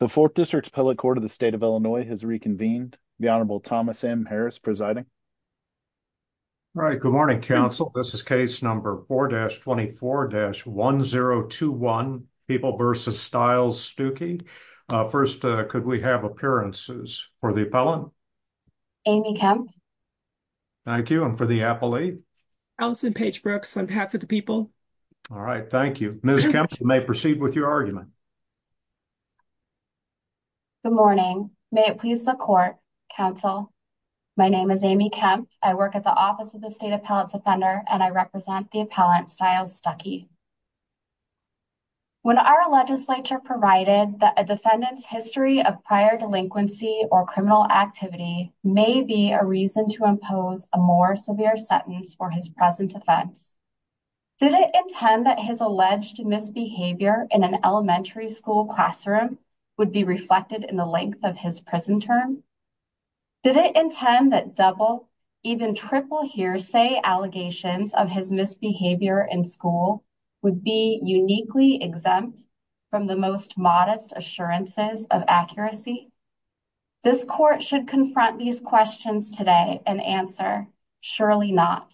The fourth district's appellate court of the state of Illinois has reconvened. The Honorable Thomas M. Harris presiding. All right, good morning, counsel. This is case number 4-24-1021, People v. Stiles-Stuckey. First, could we have appearances for the appellant? Amy Kemp. Thank you. And for the appellee? Allison Page Brooks, on behalf of the people. All right, thank you. Ms. Kemp, you may proceed with your argument. Amy Kemp Good morning. May it please the court, counsel. My name is Amy Kemp. I work at the Office of the State Appellate Defender, and I represent the appellant, Stiles-Stuckey. When our legislature provided that a defendant's history of prior delinquency or criminal activity may be a reason to impose a more severe sentence for his present offense, did it intend that his alleged misbehavior in an elementary school classroom would be reflected in the length of his prison term? Did it intend that double, even triple hearsay allegations of his misbehavior in school would be uniquely exempt from the most modest assurances of accuracy? This court should confront these questions today and answer, surely not.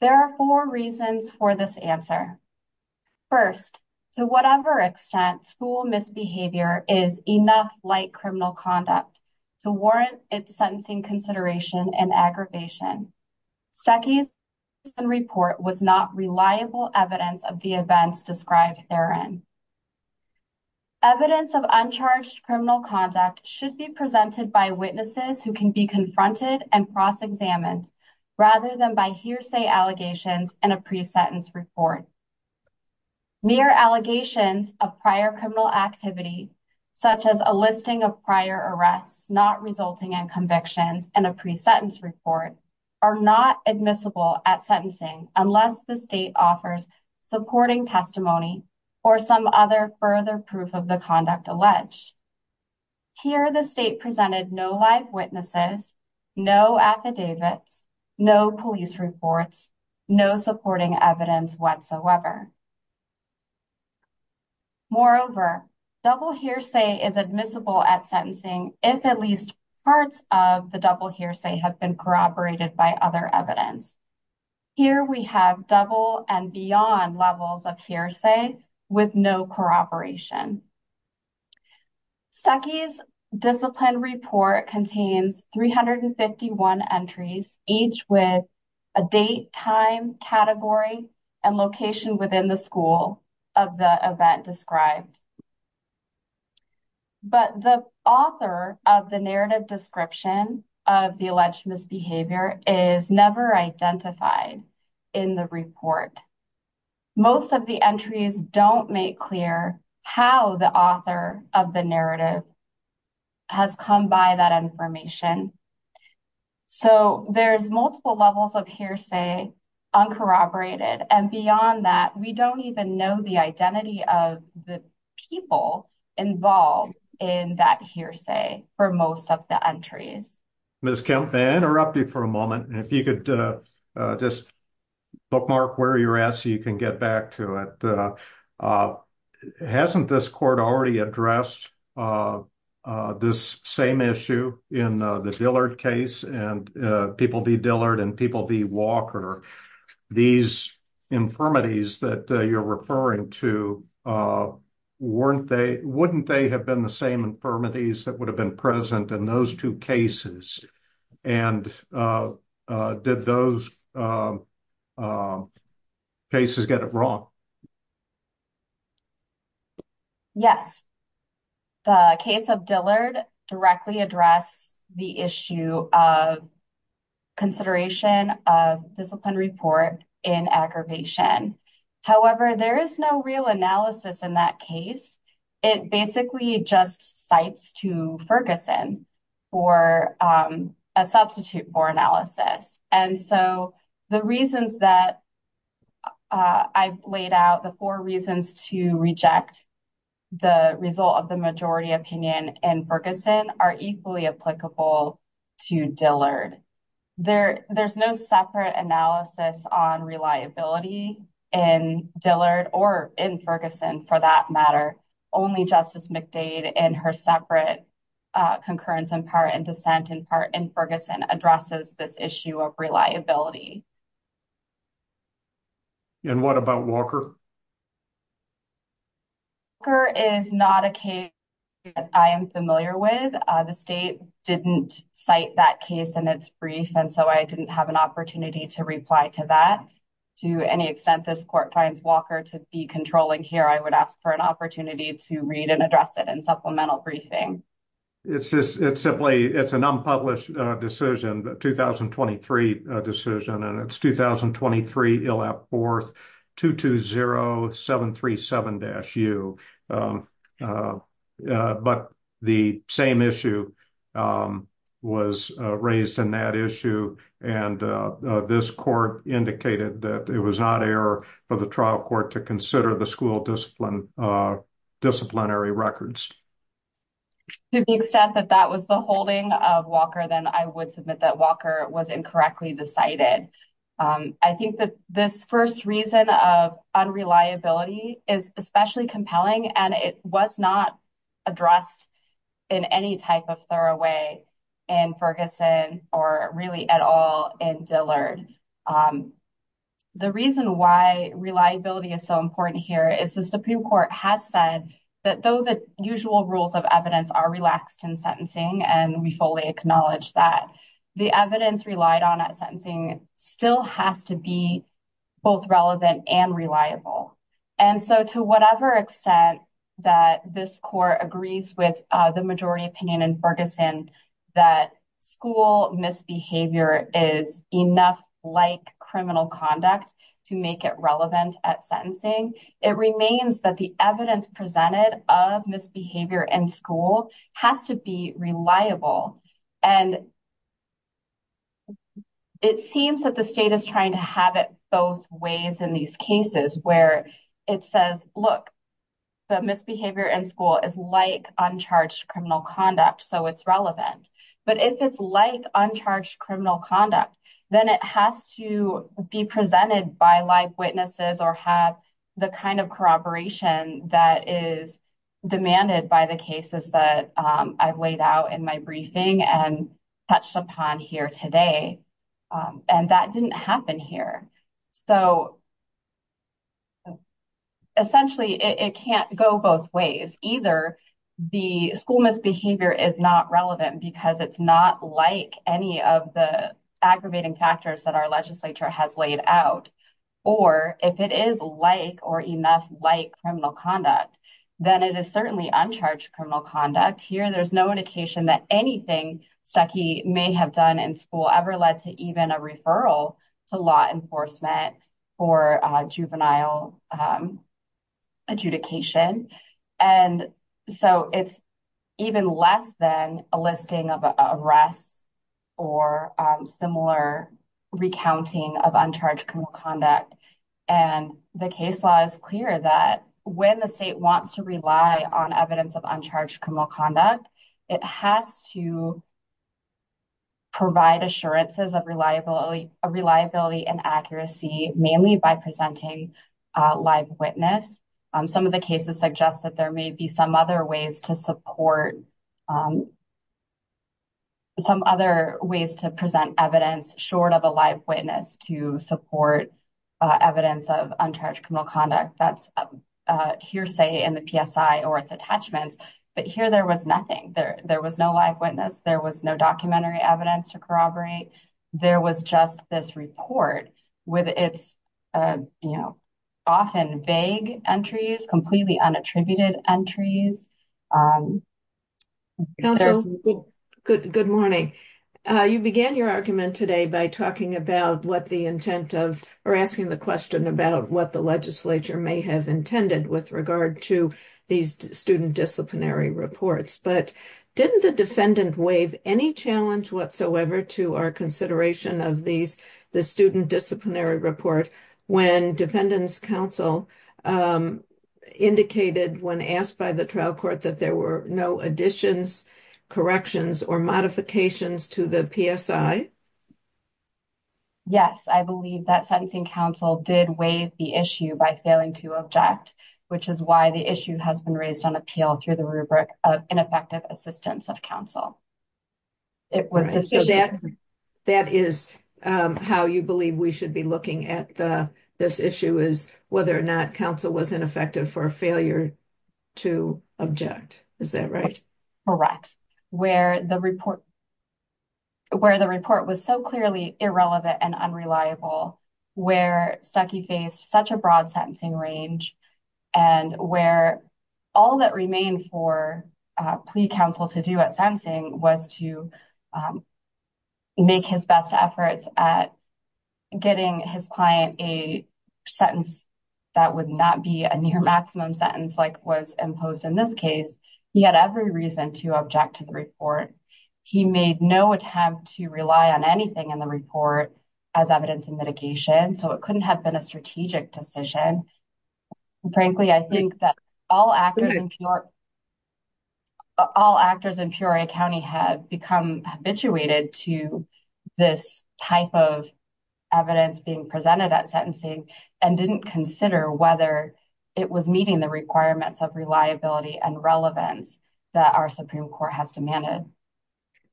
There are four reasons for this answer. First, to whatever extent school misbehavior is enough like criminal conduct to warrant its sentencing consideration and aggravation, Stuckey's report was not reliable evidence of the events described therein. Evidence of uncharged criminal conduct should be presented by witnesses who can be confronted and cross-examined rather than by hearsay allegations in a pre-sentence report. Mere allegations of prior criminal activity, such as a listing of prior arrests not resulting in convictions in a pre-sentence report, are not admissible at sentencing unless the state offers supporting testimony or some other further proof of the conduct alleged. Here the state presented no live witnesses, no affidavits, no police reports, no supporting evidence whatsoever. Moreover, double hearsay is admissible at sentencing if at least parts of the double hearsay have been corroborated by other evidence. Here we have double and beyond levels of hearsay with no corroboration. Stuckey's discipline report contains 351 entries, each with a date, time, category, and location within the school of the event described. But the author of the narrative description of the alleged misbehavior is never identified in the report. Most of the entries don't make clear how the author of the narrative has come by that information. So there's multiple levels of hearsay uncorroborated and beyond that we don't even know the identity of the people involved in that hearsay for most of the entries. Ms. Kemp, may I interrupt you for a moment? If you could just bookmark where you're at so you can get back to it. Hasn't this court already addressed this same issue in the Dillard case and people v. Dillard and people v. Walker? These infirmities that you're referring to, wouldn't they have been the same infirmities that would have been present in those two cases? And did those cases get it wrong? Yes. The case of Dillard directly addressed the issue of consideration of discipline report in aggravation. However, there is no real analysis in that case. It basically just cites to Ferguson for a substitute for analysis. And so the reasons that I've laid out, the four reasons to reject the result of the majority opinion in Ferguson are equally applicable to Dillard. There's no separate analysis on reliability in Dillard or in Ferguson for that matter. Only Justice McDade and her separate concurrence in part and dissent in part in Ferguson addresses this issue of reliability. And what about Walker? Walker is not a case that I am familiar with. The state didn't cite that case in its brief. And so I didn't have an opportunity to reply to that. To any extent this court finds Walker to be controlling here, I would ask for an opportunity to read and address it in supplemental briefing. It's just, it's simply, it's an unpublished decision, but 2023 decision and it's 2023 fourth 220737-U. But the same issue was raised in that issue. And this court indicated that it was not error for the trial court to consider the school discipline disciplinary records. To the extent that that was the holding of Walker, then I would submit that Walker was incorrectly decided. I think that this first reason of unreliability is especially compelling and it was not addressed in any type of thorough way in Ferguson or really at all in Dillard. The reason why reliability is so important here is the Supreme Court has said that though the usual rules of evidence are relaxed in sentencing, and we fully acknowledge that the evidence relied on at sentencing still has to be both relevant and reliable. And so to whatever extent that this court agrees with the majority opinion in Ferguson, that school misbehavior is enough like criminal conduct to make it relevant at sentencing. It seems that the state is trying to have it both ways in these cases where it says, look, the misbehavior in school is like uncharged criminal conduct, so it's relevant. But if it's like uncharged criminal conduct, then it has to be presented by live witnesses or have the kind of corroboration that is demanded by the cases that I've laid out in my briefing and touched upon here today. And that didn't happen here. So essentially, it can't go both ways. Either the school misbehavior is not relevant because it's not like any of the aggravating factors that our legislature has laid out, or if it is like or enough like criminal conduct, then it is certainly uncharged criminal conduct. Here there's no indication that anything Stuckey may have done in school ever led to even a referral to law enforcement for juvenile adjudication. And so it's even less than a listing of arrests or similar recounting of uncharged criminal conduct. And the case law is clear that when the state wants to rely on evidence of uncharged criminal conduct, it has to provide assurances of reliability and accuracy, mainly by presenting live witness. Some of the cases suggest that there may be some other ways to present evidence short of a live witness to support evidence of uncharged criminal conduct. That's hearsay in the PSI or its attachments. But here there was nothing there. There was no live witness. There was no documentary evidence to corroborate. There was just this report with its often vague entries, completely unattributed entries. Good morning. You began your argument today by talking about what the intent of or asking the about what the legislature may have intended with regard to these student disciplinary reports. But didn't the defendant waive any challenge whatsoever to our consideration of these, the student disciplinary report, when defendants counsel indicated when asked by the trial court that there were no additions, corrections or modifications to the PSI? Yes, I believe that sentencing counsel did waive the issue by failing to object, which is why the issue has been raised on appeal through the rubric of ineffective assistance of counsel. It was that that is how you believe we should be looking at the this issue is whether or not counsel was ineffective for failure to object. Is that right? Correct. Where the report where the report was so clearly irrelevant and unreliable, where Stuckey faced such a broad sentencing range and where all that remained for plea counsel to do at sentencing was to make his best efforts at getting his client a sentence that would not be a near maximum sentence like was imposed in this case. He had every reason to object to the report. He made no attempt to rely on anything in the report as evidence and mitigation, so it couldn't have been a strategic decision. Frankly, I think that all actors in your all actors in Peoria County have become habituated to this type of evidence being presented at sentencing and didn't consider whether it was meeting the requirements of reliability and relevance that our Supreme Court has demanded.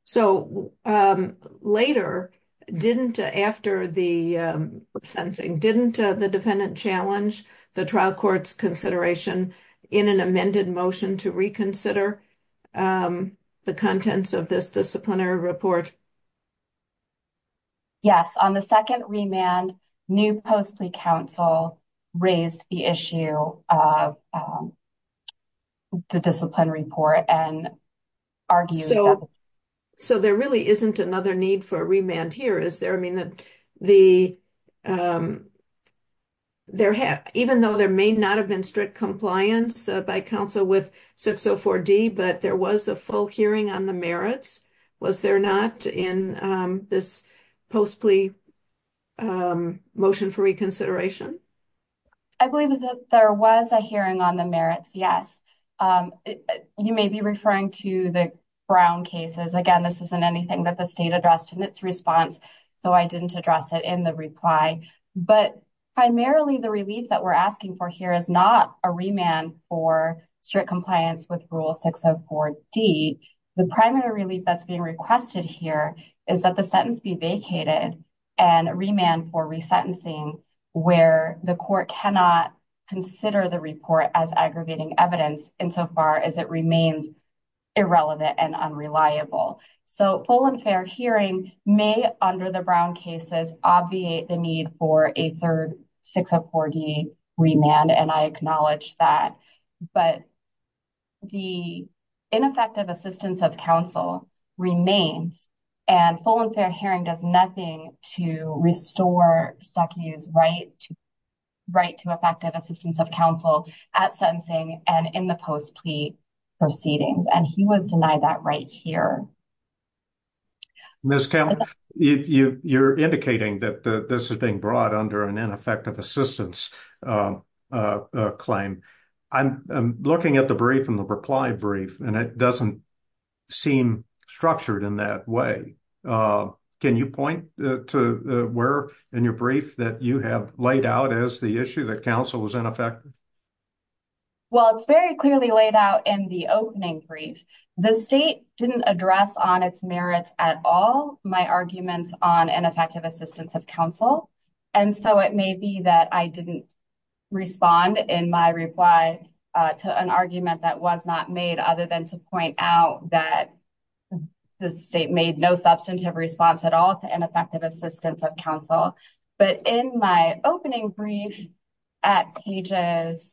So later, didn't after the sentencing, didn't the defendant challenge the trial court's consideration in an amended motion to reconsider the contents of this disciplinary report? Yes, on the second remand, new post plea counsel raised the issue of the disciplinary report and argued. So there really isn't another need for remand here, is there? I mean that the there have even though there may not have been strict compliance by counsel with 604D, but there was a full hearing on the merits. Was there not in this post plea motion for reconsideration? I believe that there was a hearing on the merits, yes. You may be referring to the Brown cases. Again, this isn't anything that the state addressed in its response, though I didn't address it in the reply. But primarily the relief that we're asking for here is not a remand for strict compliance with Rule 604D. The primary relief that's being requested here is that the sentence be vacated and remand for resentencing where the court cannot consider the report as aggravating evidence insofar as it remains irrelevant and unreliable. So full and fair hearing may under the Brown cases obviate the need for a third 604D remand and I acknowledge that. But the ineffective assistance of counsel remains and full and fair hearing does nothing to restore Stuckey's right to effective assistance of counsel at sentencing and in the post plea proceedings. And he was that right here. You're indicating that this is being brought under an ineffective assistance claim. I'm looking at the brief and the reply brief and it doesn't seem structured in that way. Can you point to where in your brief that you have laid out as the issue that counsel was ineffective? Well, it's very clearly laid out in the opening brief. The state didn't address on its merits at all my arguments on ineffective assistance of counsel. And so it may be that I didn't respond in my reply to an argument that was not made other than to point out that the state made no substantive response at all to ineffective assistance of counsel. But in my opening brief at pages.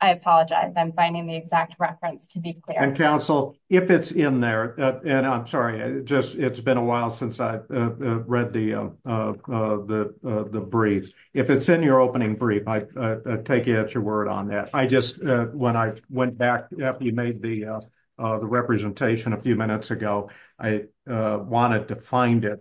I apologize. I'm finding the exact reference to be clear. And counsel, if it's in there and I'm sorry, just it's been a while since I read the brief. If it's in your opening brief, I take it at your word on that. I just when I went back after you made the representation a few minutes ago, I wanted to find it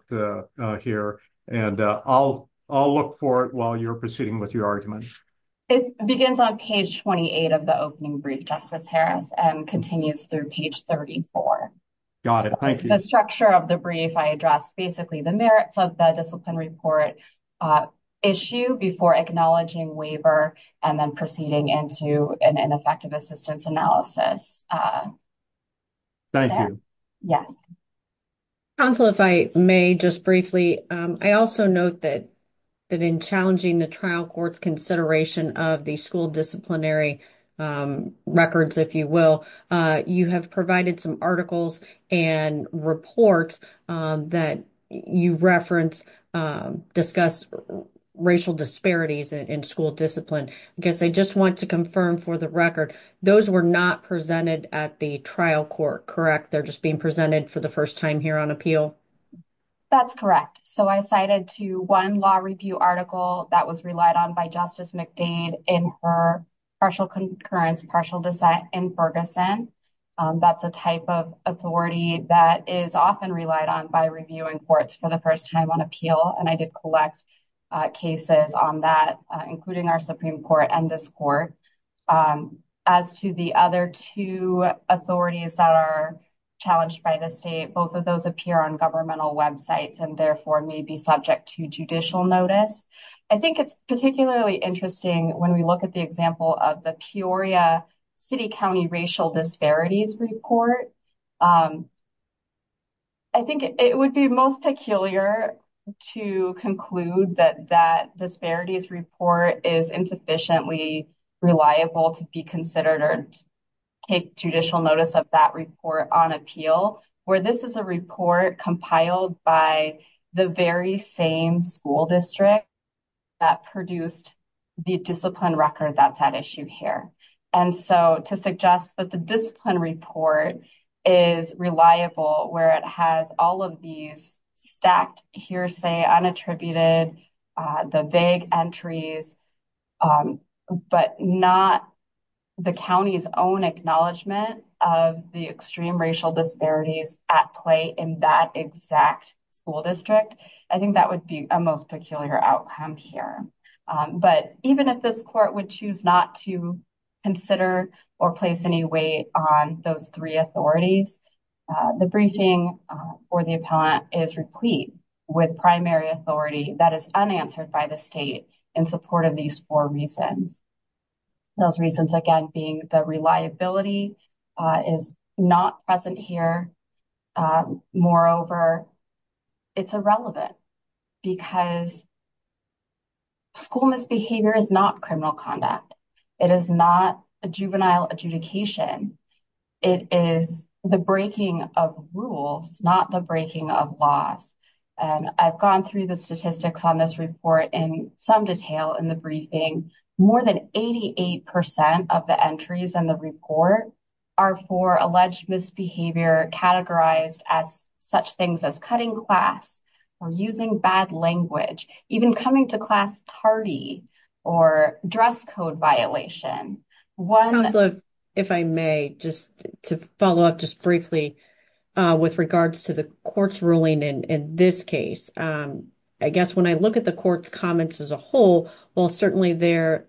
here. And I'll look for it while you're proceeding with your arguments. It begins on page 28 of the opening brief, Justice Harris, and continues through page 34. Got it. Thank you. The structure of the brief, I address basically the merits of the discipline report issue before acknowledging waiver and then proceeding into an ineffective assistance analysis. Thank you. Yes. Counsel, if I may just briefly, I also note that in challenging the trial court's consideration of the school disciplinary records, if you will, you have provided some articles and reports that you reference, discuss racial disparities in school discipline. I guess I just want to confirm for the record, those were not presented at the trial court, correct? They're just being presented for the first time here on appeal? That's correct. So I cited to one law review article that was relied on by Justice McDade in her partial concurrence, partial dissent in Ferguson. That's a type of authority that is often relied on by reviewing courts for the first time on appeal. And I did collect cases on that, including our Supreme Court and this court. As to the other two authorities that are challenged by the state, both of those appear on governmental websites and therefore may be subject to judicial notice. I think it's particularly interesting when we look at the example of the Peoria City County Racial Disparities Report. I think it would be most peculiar to conclude that that disparities report is insufficiently reliable to be considered or take judicial notice of that report on appeal, where this is a report compiled by the very same school district that produced the discipline record that's at issue here. And so to suggest that the discipline report is reliable where it has all of these stacked hearsay, unattributed, the vague entries, but not the county's own acknowledgment of the extreme racial disparities at play in that exact school district, I think that would be a most peculiar outcome here. But even if this court would choose not to consider or place any weight on those three authorities, the briefing or the appellant is replete with primary authority that is unanswered by the state in support of these four reasons. Those reasons again being the reliability is not present here. Moreover, it's irrelevant because school misbehavior is not criminal conduct. It is not a juvenile adjudication. It is the breaking of rules, not the breaking of laws. And I've gone through the statistics on this report in some detail in the briefing. More than 88 percent of the entries in the report are for alleged misbehavior categorized as such things as cutting class or using bad language, even coming to class tardy or dress code violation. If I may just to follow up just briefly with regards to the court's ruling in this case. I guess when I look at the court's comments as a whole, while certainly there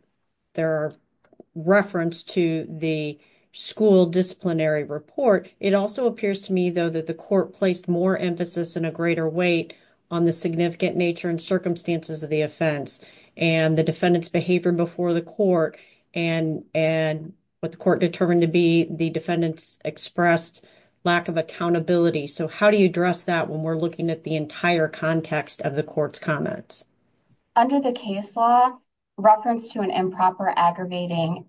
are reference to the school disciplinary report, it also appears to me, though, that the court placed more emphasis and a greater weight on the significant nature and circumstances of the offense and the defendant's behavior before the court and what the court determined to be the defendant's expressed lack of accountability. So how do you address that when we're looking at the entire context of the court's comments? Under the case law, reference to an improper aggravating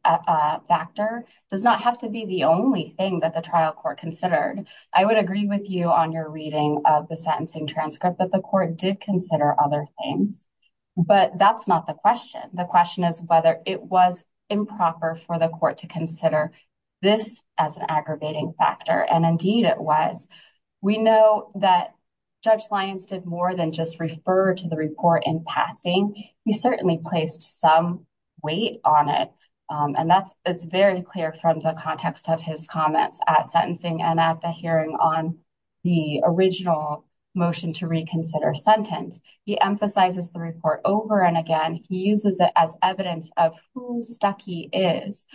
factor does not have to be the only thing that the trial court considered. I would agree with you on your reading of the sentencing transcript that the court did consider other things, but that's not the question. The question is whether it was improper for the court to consider this as an aggravating factor, and indeed it was. We know that Judge Lyons did more than just refer to the report in passing. He certainly placed some weight on it, and that's very clear from the context of his comments at sentencing and at the hearing on the original motion to reconsider sentence. He emphasizes the report over and again. He uses it as evidence of who Stuckey is,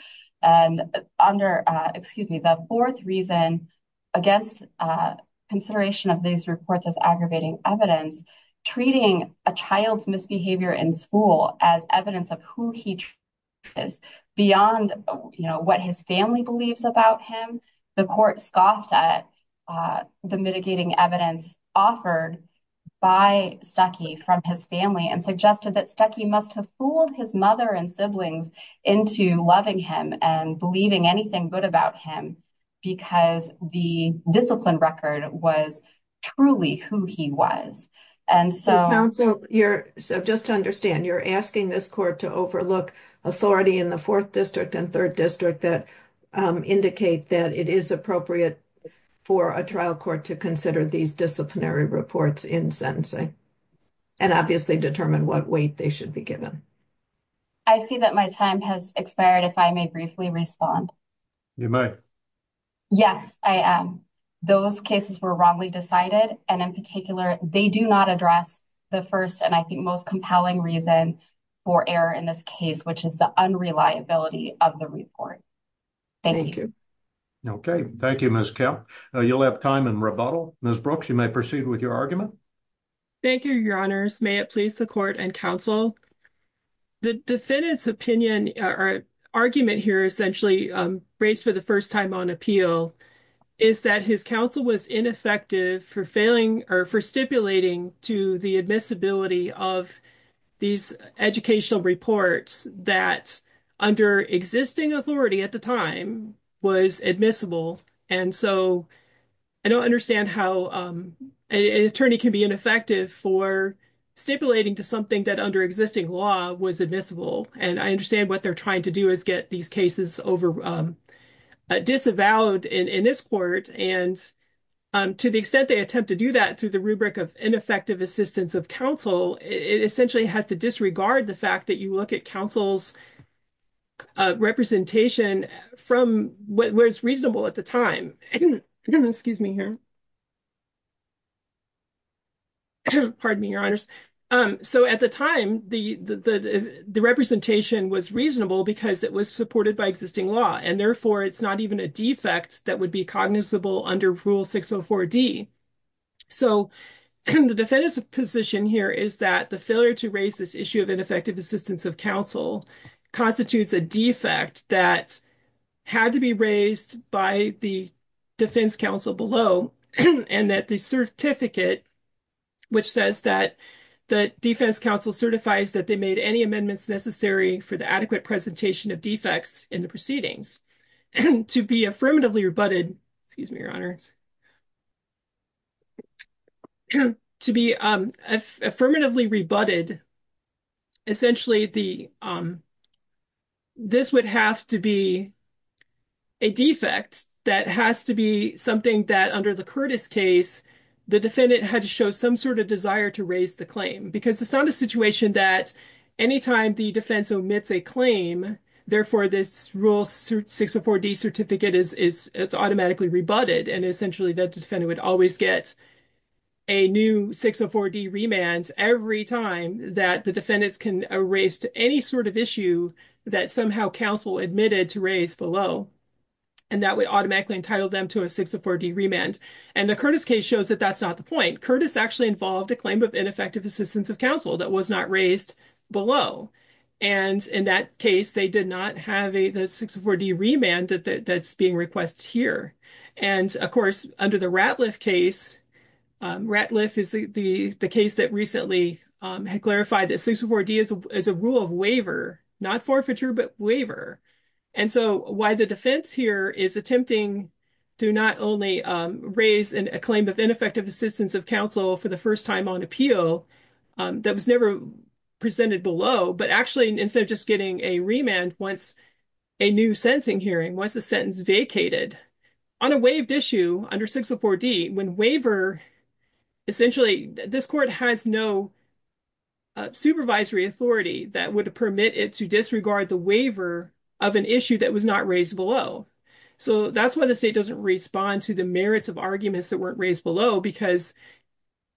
and under, excuse me, the fourth reason against consideration of these reports as aggravating evidence, treating a child's misbehavior in school as evidence of who he is beyond, you know, what his family believes about him. The court scoffed at the mitigating evidence offered by Stuckey from his family and suggested that Stuckey must have fooled his mother and siblings into loving him and believing anything good about him because the discipline record was truly who he was. And so, counsel, you're, so just to understand, you're asking this court to overlook authority in the fourth district and third district that indicate that it is appropriate for a trial court to consider these disciplinary reports in sentencing and obviously determine what weight they should be given. I see that my time has expired. If I may briefly respond. You may. Yes, I am. Those cases were wrongly decided, and in particular, they do not address the first and I think most compelling reason for error in this case, which is the unreliability of the report. Thank you. Okay, thank you, Ms. Kepp. You'll have time in rebuttal. Ms. Brooks, you may proceed with your argument. Thank you, your honors. May it please the court and counsel. The defendant's opinion or argument here essentially raised for the first time on appeal is that his counsel was ineffective for failing or for stipulating to the admissibility of these educational reports that under existing authority at the time was admissible. And so, I don't understand how an attorney can be ineffective for stipulating to something that under existing law was admissible. And I understand what they're trying to do is get these cases over disavowed in this court. And to the extent they attempt to do that through the rubric of ineffective assistance of counsel, it essentially has to disregard the fact that you look at counsel's representation from where it's reasonable at the time. Excuse me here. Pardon me, your honors. So at the time, the representation was reasonable because it was supported by existing law, and therefore, it's not even a defect that would be cognizable under Rule 604D. So, the defendant's position here is that the failure to raise this issue of ineffective assistance of counsel constitutes a defect that had to be raised by the defense counsel below, and that the certificate which says that the defense counsel certifies that they made any amendments necessary for the adequate presentation of defects in the proceedings. To be affirmatively rebutted, excuse me, your honors. To be affirmatively rebutted, essentially, this would have to be a defect that has to be something that under the Curtis case, the defendant had to show some sort of desire to raise the claim. Because it's not a situation that anytime the defense omits a claim, therefore, this 604D certificate is automatically rebutted. And essentially, the defendant would always get a new 604D remand every time that the defendants can raise to any sort of issue that somehow counsel admitted to raise below. And that would automatically entitle them to a 604D remand. And the Curtis case shows that that's not the point. Curtis actually involved a claim of ineffective assistance of counsel that was not raised below. And in that case, they did not have a 604D remand that's being requested here. And of course, under the Ratliff case, Ratliff is the case that recently had clarified that 604D is a rule of waiver, not forfeiture, but waiver. And so why the defense here is attempting to not only raise a claim of ineffective assistance of counsel for the first time on appeal that was never presented below, but actually, instead of just getting a remand once a new sentencing hearing was a sentence vacated on a waived issue under 604D when waiver, essentially, this court has no supervisory authority that would permit it to disregard the waiver of an issue that was not raised below. So that's why the state doesn't respond to the merits of arguments that weren't raised below, because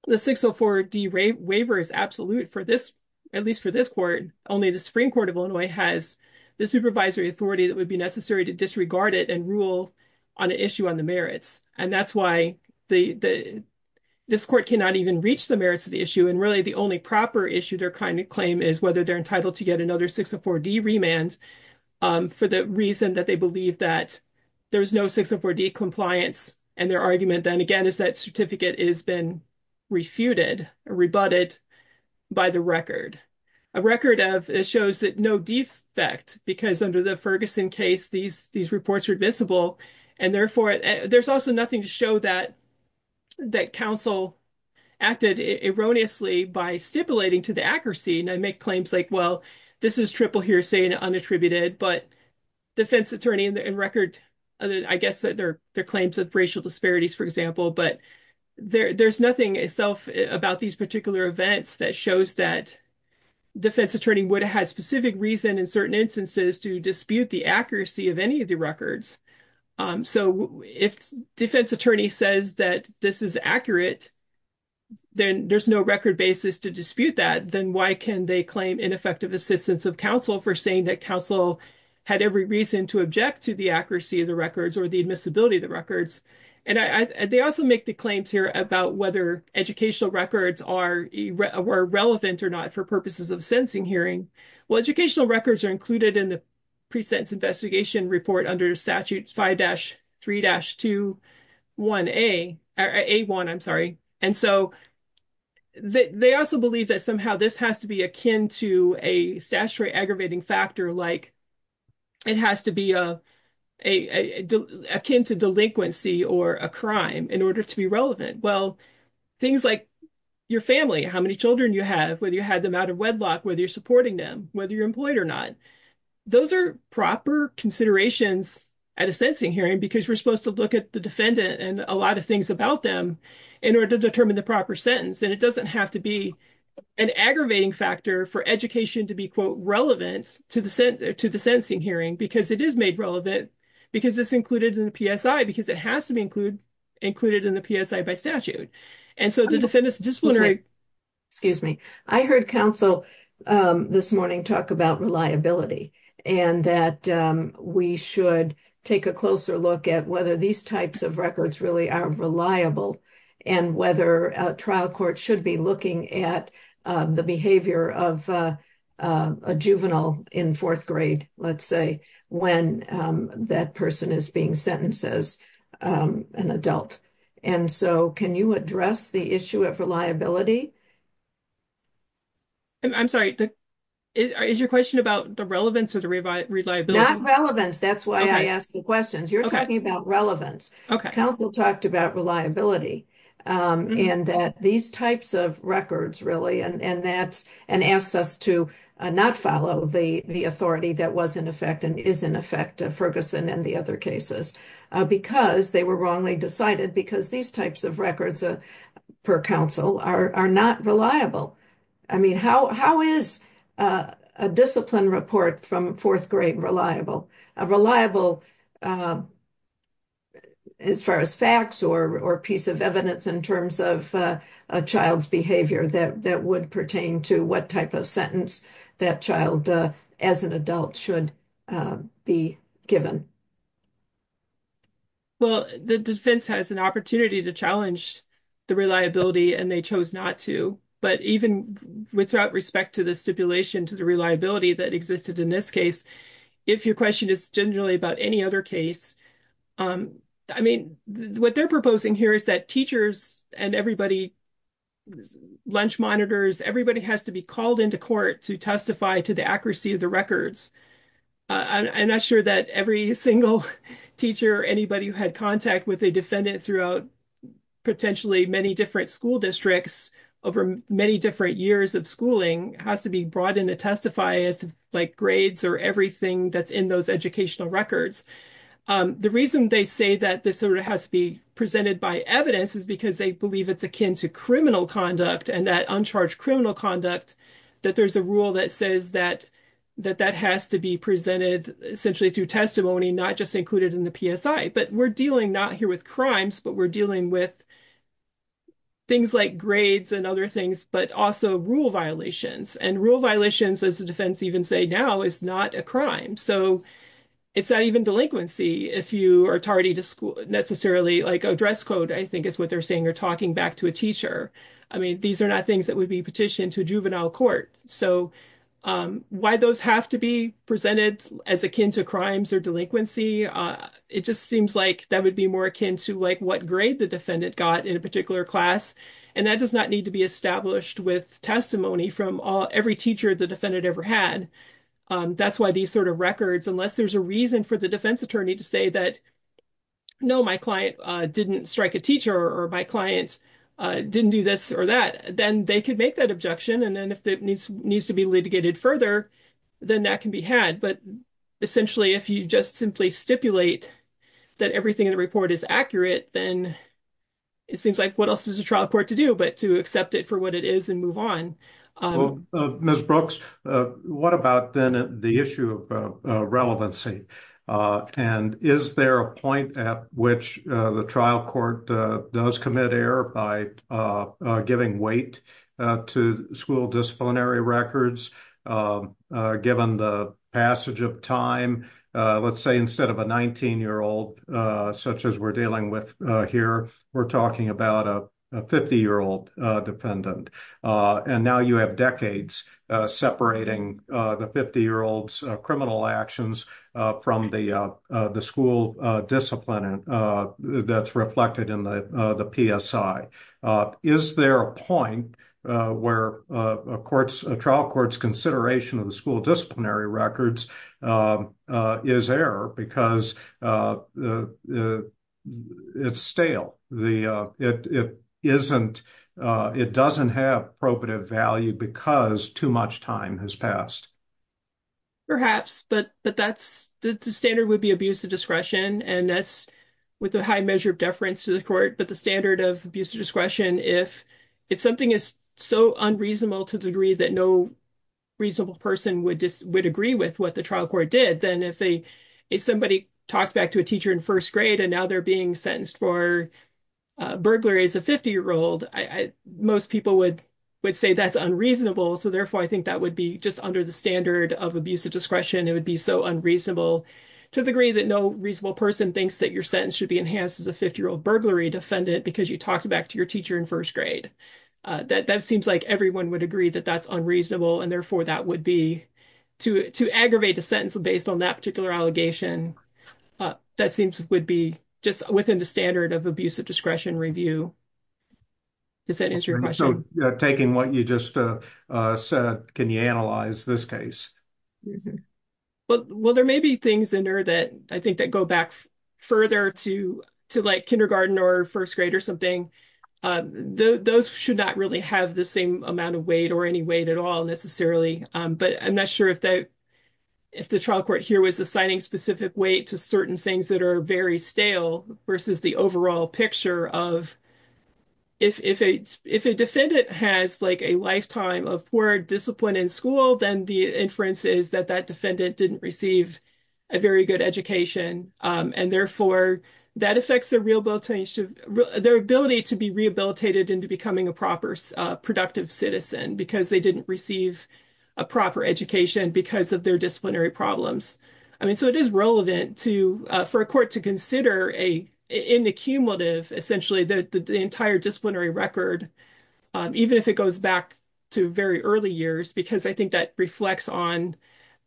the 604D waiver is absolute for this, at least for this court, only the Supreme Court of Illinois has the supervisory authority that would be necessary to disregard it and rule on an issue on the merits. And that's why this court cannot even reach the merits of the issue. And really, the only proper issue their kind of claim is whether they're entitled to get another 604D remand for the reason that they believe that there's no 604D compliance. And their argument, then again, is that certificate has been refuted or rebutted by the record. A record of it shows that no defect, because under the Ferguson case, these reports were visible. And therefore, there's also nothing to show that that counsel acted erroneously by stipulating to the accuracy and make claims like, well, this is triple hearsay and unattributed, but defense racial disparities, for example. But there's nothing itself about these particular events that shows that defense attorney would have had specific reason in certain instances to dispute the accuracy of any of the records. So if defense attorney says that this is accurate, then there's no record basis to dispute that. Then why can they claim ineffective assistance of counsel for saying that counsel had every reason to object to the accuracy of the records or the admissibility of the records? And they also make the claims here about whether educational records are relevant or not for purposes of sentencing hearing. Well, educational records are included in the pre-sentence investigation report under statute 5-3-1A. And so they also believe that somehow this has to be akin to a statutory aggravating factor, like it has to be akin to delinquency or a crime in order to be relevant. Well, things like your family, how many children you have, whether you had them out of wedlock, whether you're supporting them, whether you're employed or not. Those are proper considerations at a sentencing hearing because we're supposed to look at the defendant and a lot of things about them in order to determine the proper sentence. And it doesn't have to be an aggravating factor for education to be, quote, relevant to the sentencing hearing because it is made relevant, because it's included in the PSI, because it has to be included in the PSI by statute. And so the defendant's disciplinary... Excuse me. I heard counsel this morning talk about reliability and that we should take a closer look at whether these types of records really are reliable and whether a trial court should be looking at the behavior of a juvenile in fourth grade, let's say, when that person is being sentenced as an adult. And so can you address the issue of reliability? I'm sorry. Is your question about the relevance or the reliability? Not relevance. That's why I asked the questions. You're talking about relevance. Counsel talked about reliability and that these types of records really, and asks us to not follow the authority that was in effect and is in effect, Ferguson and the other cases, because they were wrongly decided because these types of records per counsel are not reliable. I mean, how is a discipline report from fourth grade reliable? A reliable as far as facts or piece of evidence in terms of a child's behavior that would pertain to what type of sentence that child as an adult should be given? Well, the defense has an opportunity to challenge the reliability and they chose not to. But even without respect to the stipulation to the reliability that existed in this case, if your question is generally about any other case, I mean, what they're proposing here is that teachers and everybody, lunch monitors, everybody has to be called into court to testify to the accuracy of the records. I'm not sure that every single teacher or anybody who had contact with a defendant throughout potentially many different school districts over many different years of schooling has to be brought in to testify as to like grades or everything that's in those educational records. The reason they say that this sort of has to be presented by evidence is because they believe it's akin to criminal conduct and that uncharged criminal conduct, that there's a rule that says that that has to be presented essentially through testimony, not just included in the PSI. But we're dealing not here with crimes, but we're dealing with things like grades and other things, but also rule violations and rule violations, as the defense even say now, is not a crime. So it's not even delinquency if you are tardy to school necessarily like a dress code, I think is what they're saying. You're talking back to a teacher. I mean, these are not things that would be petitioned to juvenile court. So why those have to be presented as akin to crimes or delinquency? It just seems like that would be more akin to like what grade the defendant got in a particular class, and that does not need to be established with testimony from every teacher the defendant ever had. That's why these sort of records, unless there's a reason for the defense attorney to say that, no, my client didn't strike a teacher or my clients didn't do this or that, then they could make that objection. And then if that needs to be litigated further, then that can be had. But essentially, if you just simply stipulate that everything in the report is accurate, then it seems like what else is a trial court to do, but to accept it for what it is and move on. Well, Ms. Brooks, what about then the issue of relevancy? And is there a point at which the trial court does commit error by giving weight to school disciplinary records given the passage of time? Let's say instead of a 19-year-old, such as we're dealing with here, we're talking about a 50-year-old defendant. And now you have decades separating the 50-year-old's criminal actions from the school discipline that's reflected in the PSI. Is there a point where a trial court's consideration of the school disciplinary records is error because it's stale? It doesn't have probative value because too much time has passed? Perhaps, but the standard would be abuse of discretion. And that's with a high measure of deference to the court. But the standard of abuse of discretion, if something is so unreasonable to the degree that no reasonable person would agree with what the trial court did, then if somebody talks back to a teacher in first grade and now they're being sentenced for burglary as a 50-year-old, most people would say that's unreasonable. So therefore, I think that would be just under the standard of abuse of discretion. It would be so unreasonable to the degree that no reasonable person thinks that your sentence should be enhanced as a 50-year-old burglary defendant because you talked back to your teacher in first grade. That seems like everyone would agree that that's unreasonable. And therefore, that would be, to aggravate a sentence based on that particular allegation, that seems would be just within the standard of abuse of discretion review. Does that answer your question? So taking what you just said, can you analyze this case? Well, there may be things in there that I think that go back further to like kindergarten or first grade or something. Those should not really have the same amount of weight or any weight at all necessarily. But I'm not sure if the trial court here was assigning specific weight to certain things that are very stale versus the overall picture of if a defendant has like a inferences that that defendant didn't receive a very good education. And therefore, that affects their ability to be rehabilitated into becoming a proper productive citizen because they didn't receive a proper education because of their disciplinary problems. I mean, so it is relevant for a court to consider an accumulative, essentially the entire disciplinary record, even if it goes back to very early years, because I think that reflects on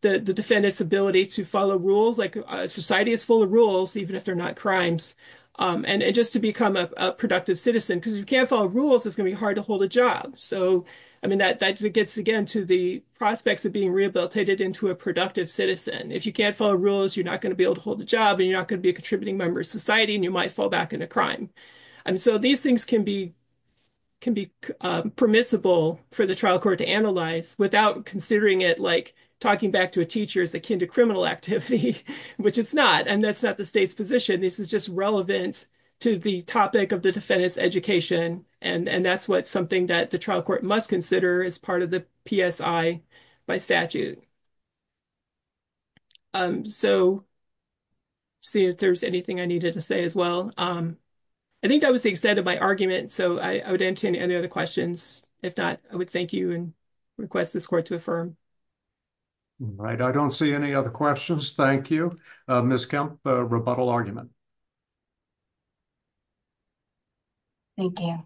the defendant's ability to follow rules, like society is full of rules, even if they're not crimes. And just to become a productive citizen, because you can't follow rules, it's going to be hard to hold a job. So I mean, that gets again to the prospects of being rehabilitated into a productive citizen. If you can't follow rules, you're not going to be able to hold a job and you're not going to be a contributing member of society and you might fall back into crime. And so these things can be permissible for the trial court to analyze without considering it like talking back to a teacher is akin to criminal activity, which it's not. And that's not the state's position. This is just relevant to the topic of the defendant's education. And that's what something that the trial court must consider as part of the PSI by statute. So see if there's anything I needed to say as well. I think that was the extent of my argument. So I would entertain any other questions. If not, I would thank you and request this court to affirm. Right. I don't see any other questions. Thank you. Ms. Kemp, rebuttal argument. Thank you.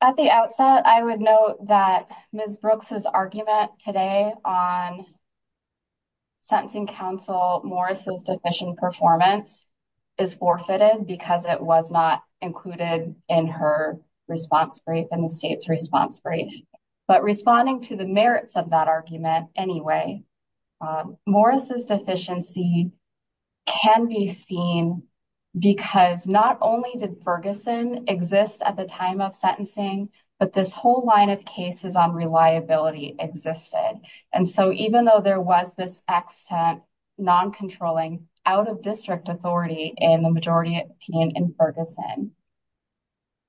At the outset, I would note that Ms. Brooks's argument today on sentencing counsel, Morris's deficient performance is forfeited because it was not included in her response brief and the state's response brief. But responding to the merits of that argument anyway, Morris's deficiency can be seen because not only did Ferguson exist at the time of sentencing, but this whole line of cases on reliability existed. And so even though there was this extent non-controlling out-of-district authority in the majority opinion in Ferguson,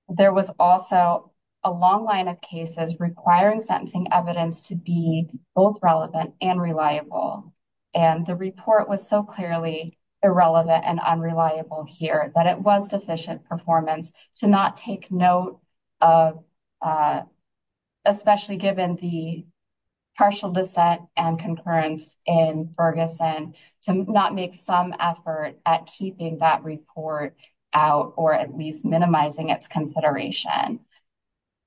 there was also a long line of cases requiring sentencing evidence to be both relevant and reliable. And the report was so clearly irrelevant and unreliable here that it was deficient performance to not take note of, especially given the partial dissent and concurrence in Ferguson, to not make some effort at keeping that report out or at least minimizing its consideration.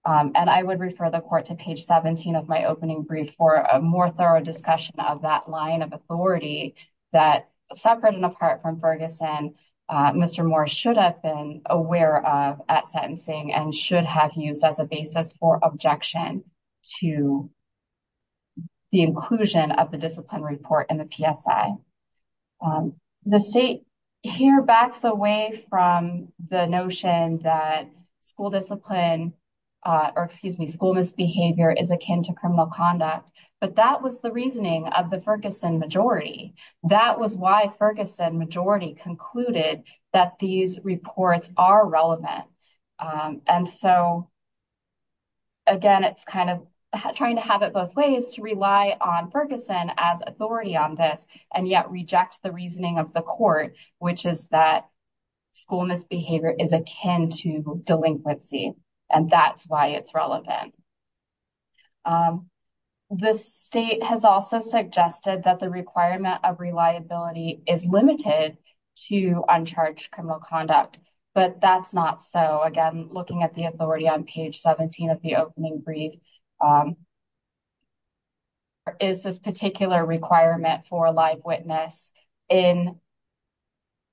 And I would refer the court to page 17 of my opening brief for a more thorough discussion of that line of authority that, separate and apart from Ferguson, Mr. Morris should have been aware of at sentencing and should have used as a basis for objection to the inclusion of the discipline report in the PSI. The state here backs away from the notion that school misbehavior is akin to criminal conduct, but that was the reasoning of the Ferguson majority. That was why Ferguson majority concluded that these reports are relevant. And so, again, it's kind of trying to have it both ways to rely on Ferguson as authority on this and yet reject the reasoning of the court, which is that school misbehavior is akin to delinquency, and that's why it's relevant. The state has also suggested that the requirement of reliability is limited to uncharged criminal conduct, but that's not so. Again, looking at the authority on page 17 of the opening brief, is this particular requirement for live witness in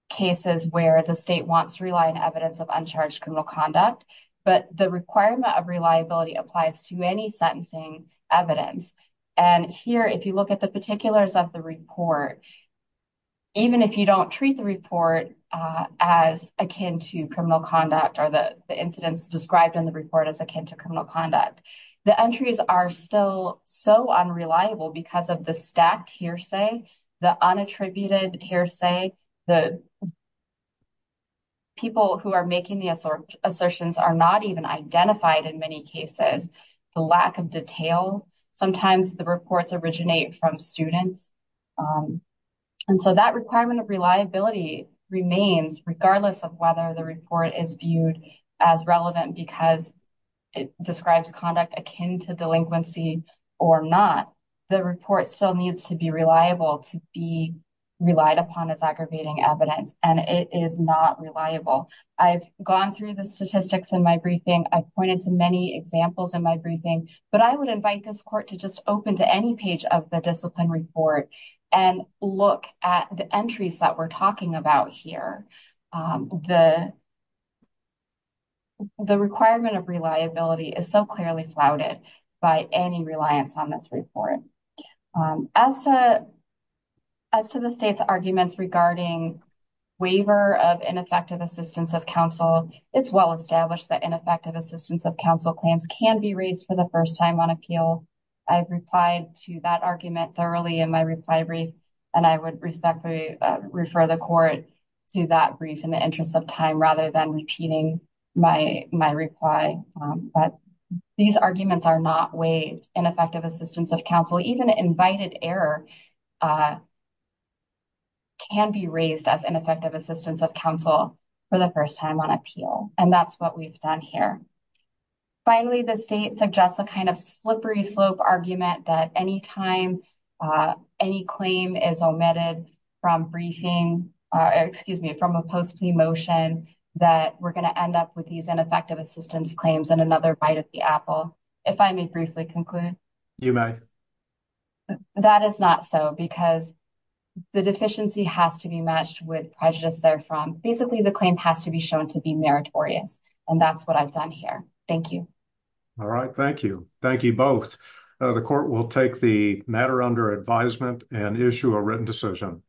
cases where the state wants to rely on evidence of uncharged criminal conduct, but the requirement of reliability applies to any sentencing evidence. And here, if you look at the particulars of the report, even if you don't treat the report as akin to criminal conduct or the incidents described in the report as akin to criminal conduct, the entries are still so unreliable because of the stacked hearsay, the unattributed assertions are not even identified in many cases, the lack of detail. Sometimes the reports originate from students. And so, that requirement of reliability remains regardless of whether the report is viewed as relevant because it describes conduct akin to delinquency or not. The report still needs to be reliable to be relied upon as aggravating evidence, and it is not reliable. I've gone through the statistics in my briefing. I've pointed to many examples in my briefing, but I would invite this court to just open to any page of the discipline report and look at the entries that we're talking about here. The requirement of reliability is so clearly flouted by any reliance on this report. As to the state's arguments regarding waiver of ineffective assistance of counsel, it's well established that ineffective assistance of counsel claims can be raised for the first time on appeal. I've replied to that argument thoroughly in my reply brief, and I would respectfully refer the court to that brief in the interest of time rather than repeating my reply. But these arguments are not waived. Ineffective assistance of counsel, even invited error, can be raised as ineffective assistance of counsel for the first time on appeal, and that's what we've done here. Finally, the state suggests a kind of slippery slope argument that any time any claim is omitted from briefing, excuse me, from a post plea motion that we're going to end up with these ineffective assistance claims and another bite at the apple. If I may briefly conclude, you may. That is not so because the deficiency has to be matched with prejudice there from basically the claim has to be shown to be meritorious, and that's what I've done here. Thank you. All right. Thank you. Thank you both. The court will take the matter under advisement and issue a written decision.